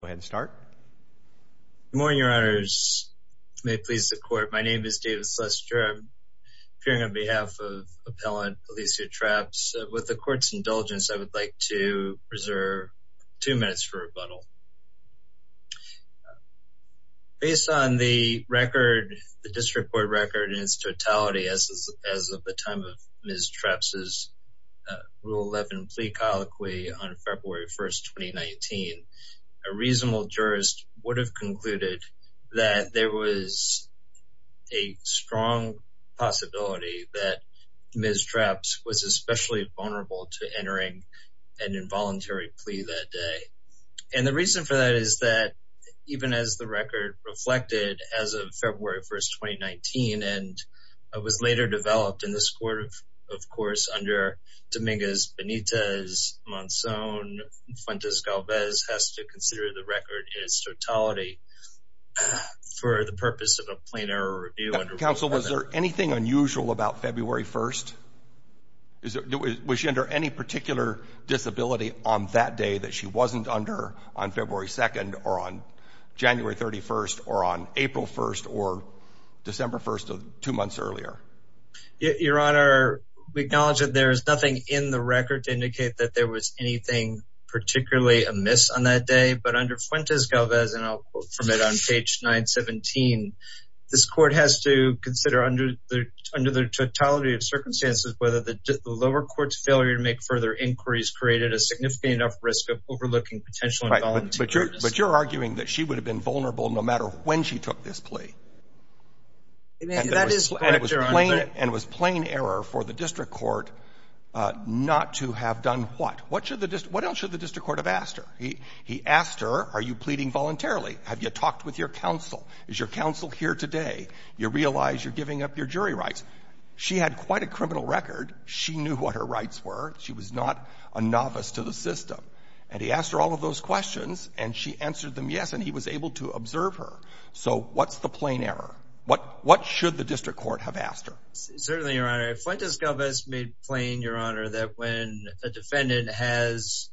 Good morning, your honors. May it please the court. My name is David Sluster. I'm appearing on behalf of appellant Alecia Trapps. With the court's indulgence, I would like to preserve two minutes for rebuttal. Based on the record, the district court record in its totality as of the time of Ms. Trapps' Rule 11 plea colloquy on February 1, 2019, a reasonable jurist would have concluded that there was a strong possibility that Ms. Trapps was especially vulnerable to entering an involuntary plea that day. And the reason for that is that even as the record reflected as of February 1, 2019, and was later developed in this court of course under Dominguez-Benitez, Monsoon, Fuentes-Galvez has to consider the record in its totality for the purpose of a plain error review under Rule 11. Counsel, was there anything unusual about February 1? Was she under any particular disability on that day that she wasn't under on February 2nd or on January 31st or on April 1st or December 1st two months earlier? Your honor, we acknowledge that there is nothing in the record to indicate that there was anything particularly amiss on that day, but under Fuentes-Galvez, and I'll quote from it on page 917, this court has to consider under the totality of circumstances whether the there was significant enough risk of overlooking potential involuntary charges. Right, but you're arguing that she would have been vulnerable no matter when she took this plea. And that is correct, your honor. And it was plain error for the district court not to have done what? What else should the district court have asked her? He asked her, are you pleading voluntarily? Have you talked with your counsel? Is your counsel here today? You realize you're giving up your jury rights. She had quite a criminal record. She knew what her rights were. She was not a novice to the system. And he asked her all of those questions, and she answered them yes, and he was able to observe her. So what's the plain error? What should the district court have asked her? Certainly, your honor. Fuentes-Galvez made plain, your honor, that when a defendant has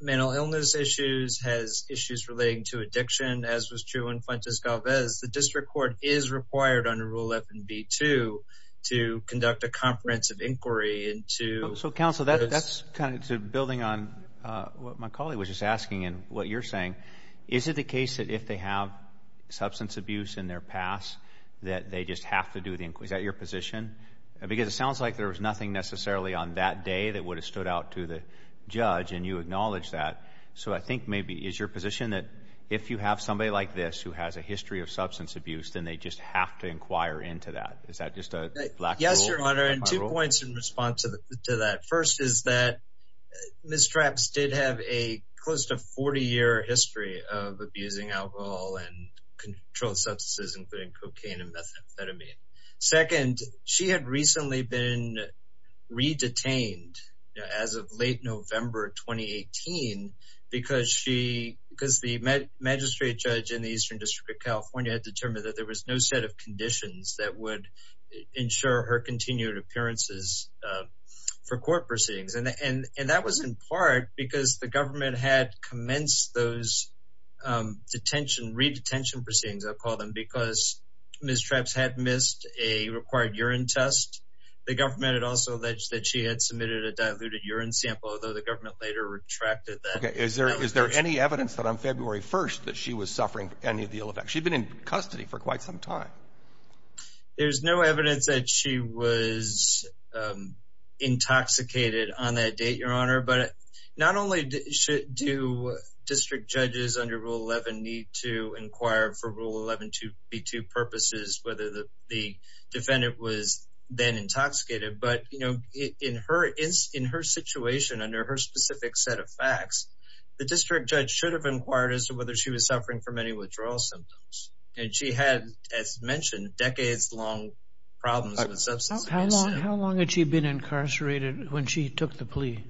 mental illness issues, has issues relating to addiction, as was true in Fuentes-Galvez, the district court is required under Rule F and B-2 to conduct a comprehensive inquiry into- So counsel, that's kind of building on what my colleague was just asking and what you're saying. Is it the case that if they have substance abuse in their past that they just have to do the inquiry? Is that your position? Because it sounds like there was nothing necessarily on that day that would have stood out to the judge, and you acknowledge that. So I think maybe is your position that if you have somebody like this who has a history of substance abuse, then they just have to inquire into that? Is that just a black rule? Yes, your honor. And two points in response to that. First is that Ms. Trapps did have a close to 40-year history of abusing alcohol and controlled substances, including cocaine and methamphetamine. Second, she had recently been re-detained as of late November 2018 because the magistrate judge in the Eastern District of California had determined that there was no set of conditions that would ensure her continued appearances for court proceedings. And that was in part because the government had commenced those detention, re-detention proceedings, I'll call them, because Ms. Trapps had missed a required urine test. The government had also alleged that she had submitted a diluted urine sample, although the government later retracted that. Is there any evidence that on February 1st that she was suffering any of the ill effects? She'd been in custody for quite some time. There's no evidence that she was intoxicated on that date, your honor. But not only do district judges under Rule 11 need to inquire for Rule 11.2b2 purposes whether the defendant was then intoxicated, but in her situation, under her specific set of facts, the district judge should have inquired as to whether she was suffering from any withdrawal symptoms. And she had, as mentioned, decades-long problems with substance abuse. How long had she been incarcerated when she took the plea?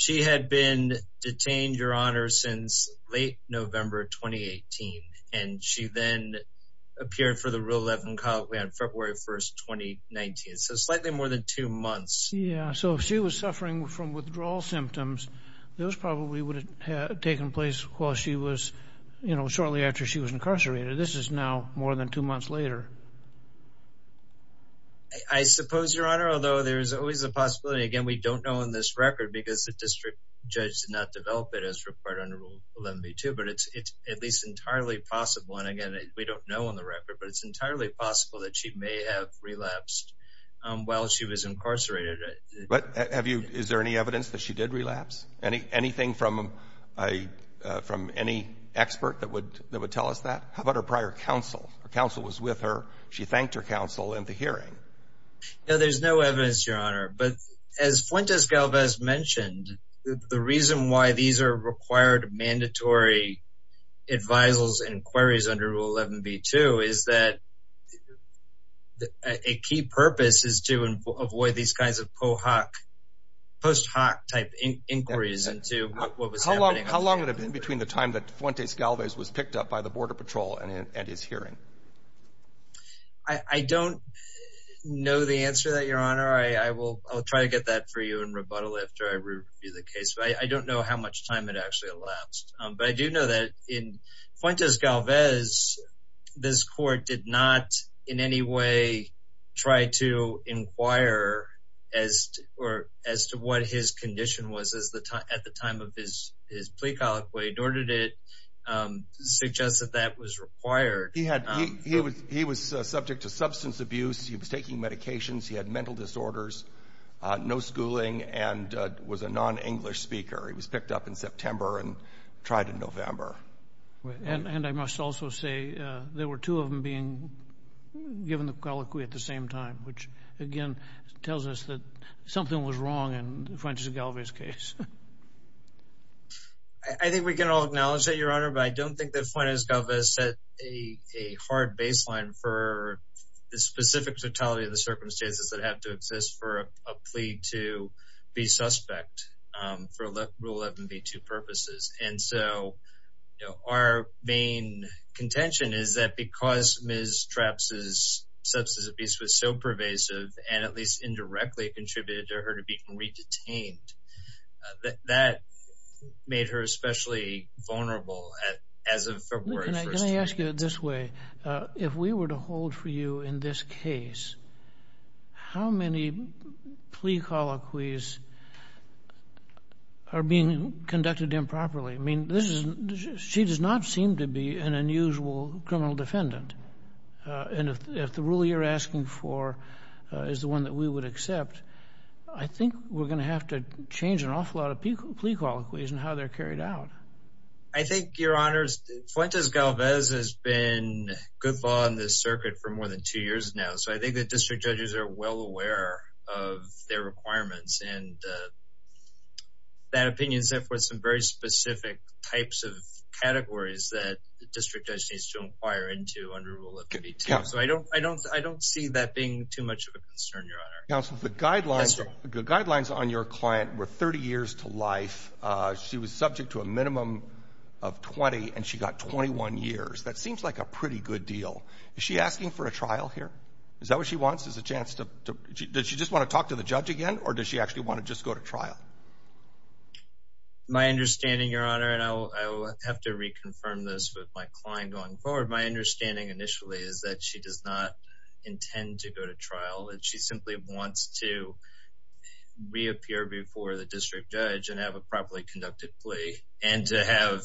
She had been detained, your honor, since late November 2018. And she then appeared for the Rule 11 Codeway on February 1st, 2019. So slightly more than two months. So if she was suffering from withdrawal symptoms, those probably would have taken place while she was, you know, shortly after she was incarcerated. This is now more than two months later. I suppose, your honor, although there's always a possibility, again, we don't know on this record because the district judge did not develop it as required under Rule 11b2, but it's at least entirely possible. And again, we don't know on the record, but it's entirely possible that she may have relapsed while she was incarcerated. But have you, is there any evidence that she did relapse? Anything from any expert that would tell us that? How about her prior counsel? Her counsel was with her. She thanked her counsel in the hearing. No, there's no evidence, your honor. But as Fuentes Galvez mentioned, the reason why these are required mandatory advisals and inquiries under Rule 11b2 is that a key purpose is to avoid these kinds of post hoc type inquiries into what was happening. How long would it have been between the time that Fuentes Galvez was picked up by the Border Patrol and his hearing? I don't know the answer to that, your honor. I will try to get that for you in rebuttal after I review the case. But I don't know how much time it actually elapsed. But I do know that in Fuentes Galvez, this court did not in any way try to inquire as to what his condition was at the time of his plea colloquy, nor did it suggest that that was required. He was subject to substance abuse. He was taking medications. He had mental disorders, no schooling, and was a non-English speaker. He was picked up in September and tried in November. And I must also say there were two of them being given the colloquy at the same time, which again tells us that something was wrong in Fuentes Galvez's case. I think we can all acknowledge that, your honor, but I don't think that Fuentes Galvez set a hard baseline for the specific totality of the circumstances that have to exist for a plea to be suspect for Rule 11b2 purposes. And so, you know, our main contention is that because Ms. Trapps's substance abuse was so pervasive and at least indirectly contributed to her to be re-detained, that made her especially vulnerable as of February 1st. Can I ask you this way? If we were to hold for you in this case, how many plea colloquies are being conducted improperly? I mean, she does not seem to be an unusual criminal defendant. And if the rule you're asking for is the one that we would accept, I think we're going to have to change an awful lot of plea colloquies and how they're carried out. I think, your honors, Fuentes Galvez has been good law in this circuit for more than two years now. So I think the district judges are well aware of their requirements and that opinion set forth some very specific types of categories that the district judge needs to inquire into under Rule 11b2. So I don't see that being too much of a concern, your honor. Counsel, the guidelines on your client were 30 years to life. She was subject to a minimum of 20 and she got 21 years. That seems like a pretty good deal. Is she asking for a trial here? Is that what she wants? Is a chance to, does she just want to talk to the judge again, or does she actually want to just go to trial? My understanding, your honor, and I'll have to reconfirm this with my client going forward. My understanding initially is that she does not intend to go to trial and she simply wants to reappear before the district judge and have a and to have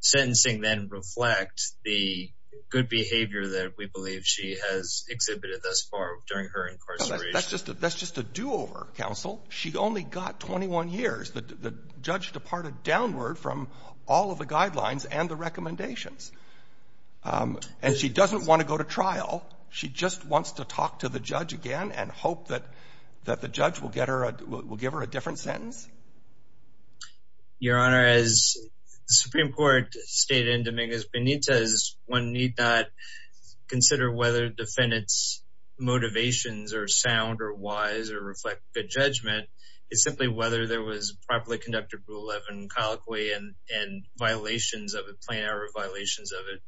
sentencing then reflect the good behavior that we believe she has exhibited thus far during her incarceration. That's just a do-over, counsel. She only got 21 years. The judge departed downward from all of the guidelines and the recommendations. And she doesn't want to go to trial. She just wants to talk to the judge again and hope that the judge will give her a different sentence. Your honor, as the Supreme Court stated in Dominguez Benitez, one need not consider whether defendant's motivations are sound or wise or reflect good judgment. It's simply whether there was properly conducted rule 11 colloquy and violations of it, plain error violations of it,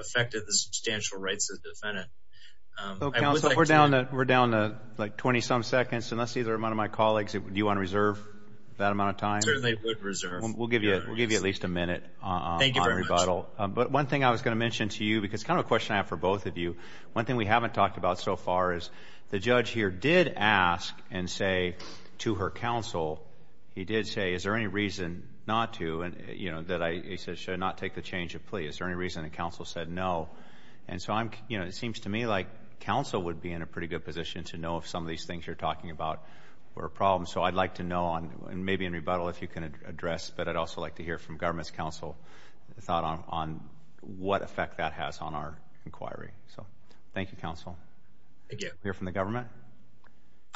affected the substantial rights of the defendant. So, counsel, we're down to like 20-some seconds and let's see the amount of my colleagues. Do you want to reserve that amount of time? Certainly, I would reserve. We'll give you at least a minute on rebuttal. Thank you very much. But one thing I was going to mention to you, because it's kind of a question I have for both of you, one thing we haven't talked about so far is the judge here did ask and say to her counsel, he did say, is there any reason not to, you know, that I should not take the change of plea? Is there any reason that counsel said no? And so I'm, you know, it seems to me like counsel would be in a pretty good position to know if some of these things you're talking about were a problem. So I'd like to know on, and maybe in rebuttal, if you can address, but I'd also like to hear from government's counsel, the thought on what effect that has on our inquiry. So thank you, counsel. Thank you. We'll hear from the government.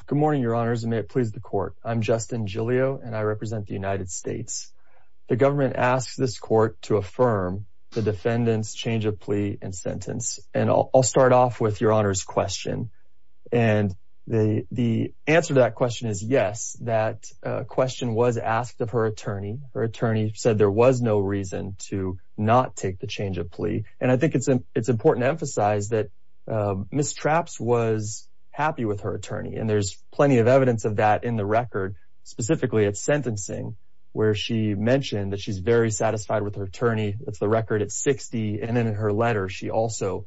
Good morning, your honors, and may it please the court. I'm Justin Giglio, and I represent the United States. The government asks this court to affirm the defendant's change of plea and sentence. And I'll start off with your honors question. And the answer to that question is yes, that question was asked of her attorney. Her attorney said there was no reason to not take the change of plea. And I think it's important to emphasize that Ms. Trapps was happy with her attorney. And there's plenty of evidence of that in the record, specifically at sentencing, where she mentioned that she's very satisfied with her attorney. That's the record at 60. And then in her letter, she also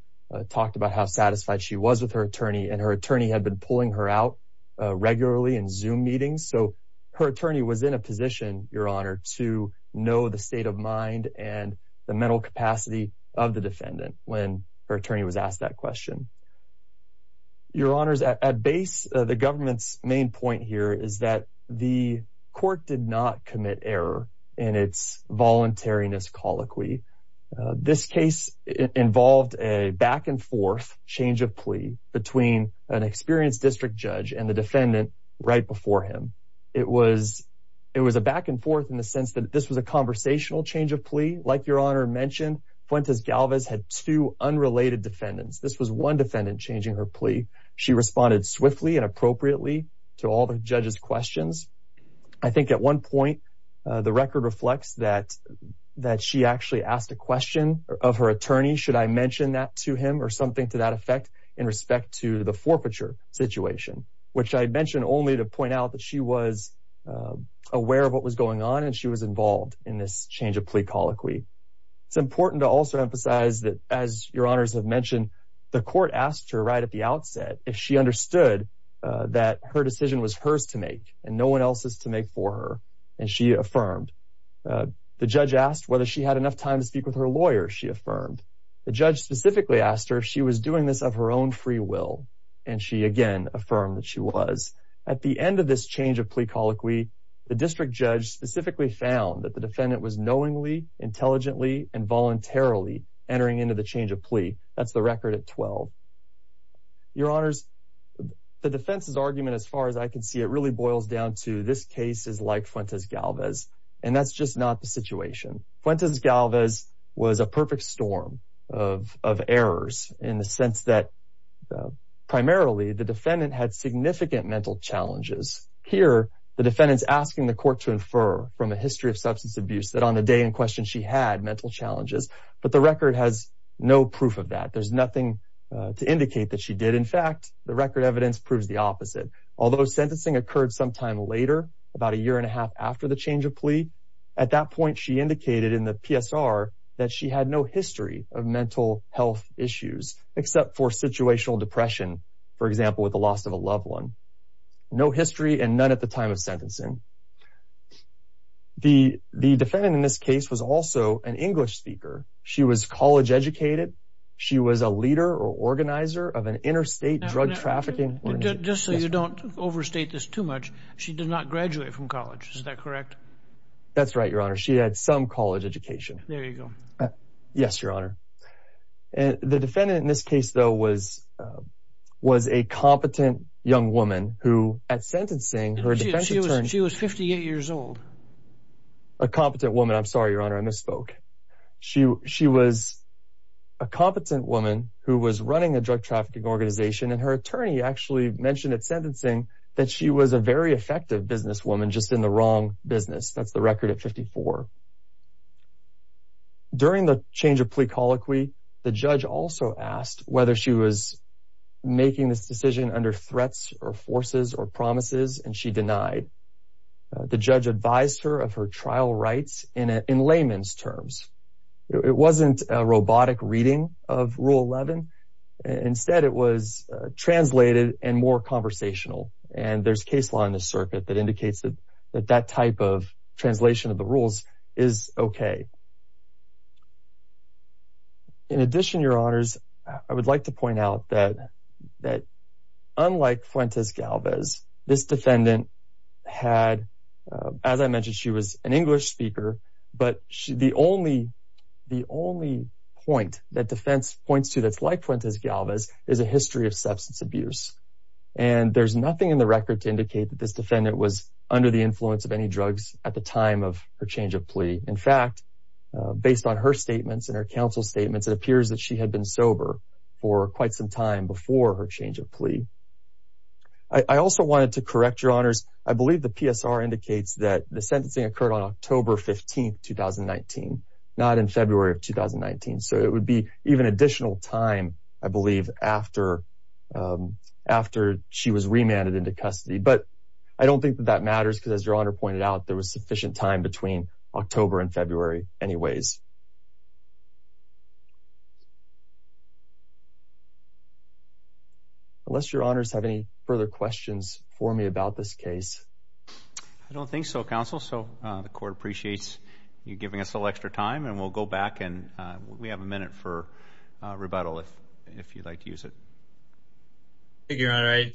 talked about how satisfied she was with her attorney. And her attorney had been pulling her out regularly in Zoom meetings. So her attorney was in a position, your honor, to know the state of mind and the mental capacity of the defendant when her attorney was asked that question. Your honors, at base, the government's point here is that the court did not commit error in its voluntariness colloquy. This case involved a back and forth change of plea between an experienced district judge and the defendant right before him. It was a back and forth in the sense that this was a conversational change of plea. Like your honor mentioned, Fuentes-Galvez had two unrelated defendants. This was one all the judge's questions. I think at one point, the record reflects that she actually asked a question of her attorney, should I mention that to him or something to that effect in respect to the forfeiture situation, which I mentioned only to point out that she was aware of what was going on and she was involved in this change of plea colloquy. It's important to also emphasize that, as your honors have mentioned, the court asked her right at the outset if she understood that her decision was hers to make and no one else's to make for her, and she affirmed. The judge asked whether she had enough time to speak with her lawyer, she affirmed. The judge specifically asked her if she was doing this of her own free will, and she again affirmed that she was. At the end of this change of plea colloquy, the district judge specifically found that the defendant was knowingly, intelligently, and voluntarily entering into the change of plea. That's the record at 12. Your honors, the defense's argument, as far as I can see, it really boils down to this case is like Fuentes Galvez, and that's just not the situation. Fuentes Galvez was a perfect storm of errors in the sense that primarily the defendant had significant mental challenges. Here, the defendant's asking the court to infer from a history of substance abuse that on the day in question she had mental challenges, but the record has no proof of that. There's nothing to indicate that she did. In fact, the record evidence proves the opposite. Although sentencing occurred sometime later, about a year and a half after the change of plea, at that point she indicated in the PSR that she had no history of mental health issues except for situational depression, for example, with the loss of a loved one. No history and none at the time of sentencing. The defendant in this case was also an English speaker. She was college educated. She was a organizer of an interstate drug trafficking organization. Just so you don't overstate this too much, she did not graduate from college. Is that correct? That's right, your honor. She had some college education. There you go. Yes, your honor. The defendant in this case, though, was a competent young woman who, at sentencing, her defense attorney... She was 58 years old. A competent woman. I'm sorry, who was running a drug trafficking organization, and her attorney actually mentioned at sentencing that she was a very effective businesswoman, just in the wrong business. That's the record at 54. During the change of plea colloquy, the judge also asked whether she was making this decision under threats or forces or promises, and she denied. The judge advised her of her trial rights in layman's terms. It wasn't a robotic reading of Rule 11. Instead, it was translated and more conversational, and there's case law in this circuit that indicates that that type of translation of the rules is okay. In addition, your honors, I would like to point out that unlike Fuentes-Galvez, this defendant had... As I mentioned, she was an English speaker, but the only point that defense points to that's like Fuentes-Galvez is a history of substance abuse, and there's nothing in the record to indicate that this defendant was under the influence of any drugs at the time of her change of plea. In fact, based on her statements and her change of plea. I also wanted to correct your honors. I believe the PSR indicates that the sentencing occurred on October 15, 2019, not in February of 2019, so it would be even additional time, I believe, after she was remanded into custody, but I don't think that that matters because as your honor pointed out, there was sufficient time between October and February anyways. Unless your honors have any further questions for me about this case. I don't think so, counsel, so the court appreciates you giving us a little extra time and we'll go back and we have a minute for rebuttal if you'd like to use it. Thank you, your honor. I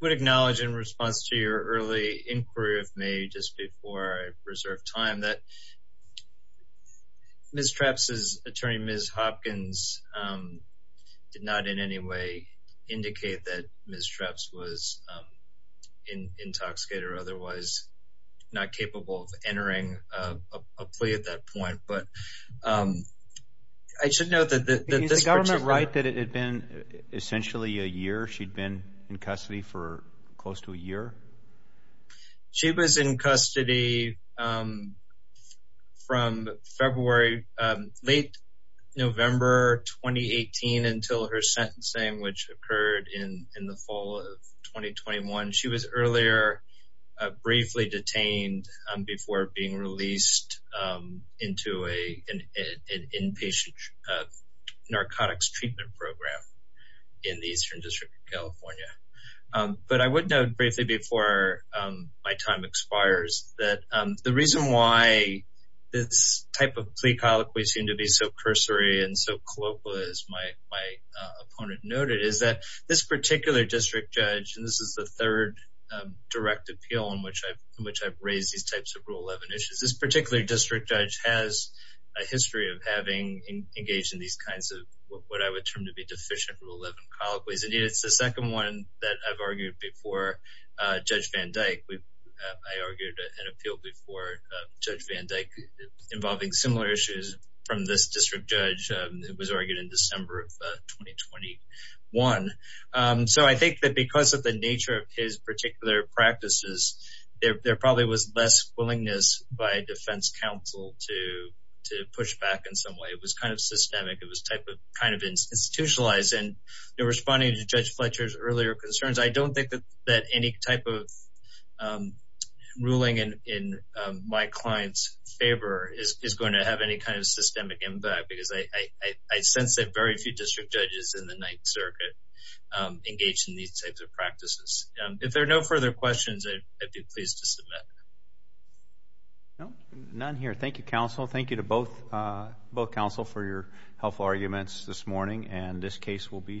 would acknowledge in response to your early inquiry of me just before reserve time that Ms. Trapps' attorney, Ms. Hopkins, did not in any way indicate that Ms. Trapps was intoxicated or otherwise not capable of entering a plea at that point, but I should note that this particular- Is the government right that it had been essentially a year she'd been in custody for close to a year? She was in custody from February, late November 2018 until her sentencing, which occurred in the fall of 2021. She was earlier briefly detained before being released into an inpatient narcotics treatment program in the Eastern District of California, but I would note briefly before my time expires that the reason why this type of plea colloquy seemed to be so cursory and so colloquial as my opponent noted is that this particular district judge, and this is the third direct appeal in which I've raised these types of Rule 11 issues, this particular district judge has a history of having engaged in these kinds of what I would term to be deficient Rule 11 colloquies. Indeed, it's the second one that I've argued before Judge Van Dyke. I argued an appeal before Judge Van Dyke involving similar issues from this district judge. It was argued in December of 2021. So I think that because of the nature of his particular practices, there probably was less willingness by defense counsel to push back in some way. It was kind of systemic. It was responding to Judge Fletcher's earlier concerns. I don't think that any type of ruling in my client's favor is going to have any kind of systemic impact because I sense that very few district judges in the Ninth Circuit engage in these types of practices. If there are no further questions, I'd be pleased to submit. No, none here. Thank you, counsel. Thank you to both counsel for your helpful arguments this morning and this case will be submitted.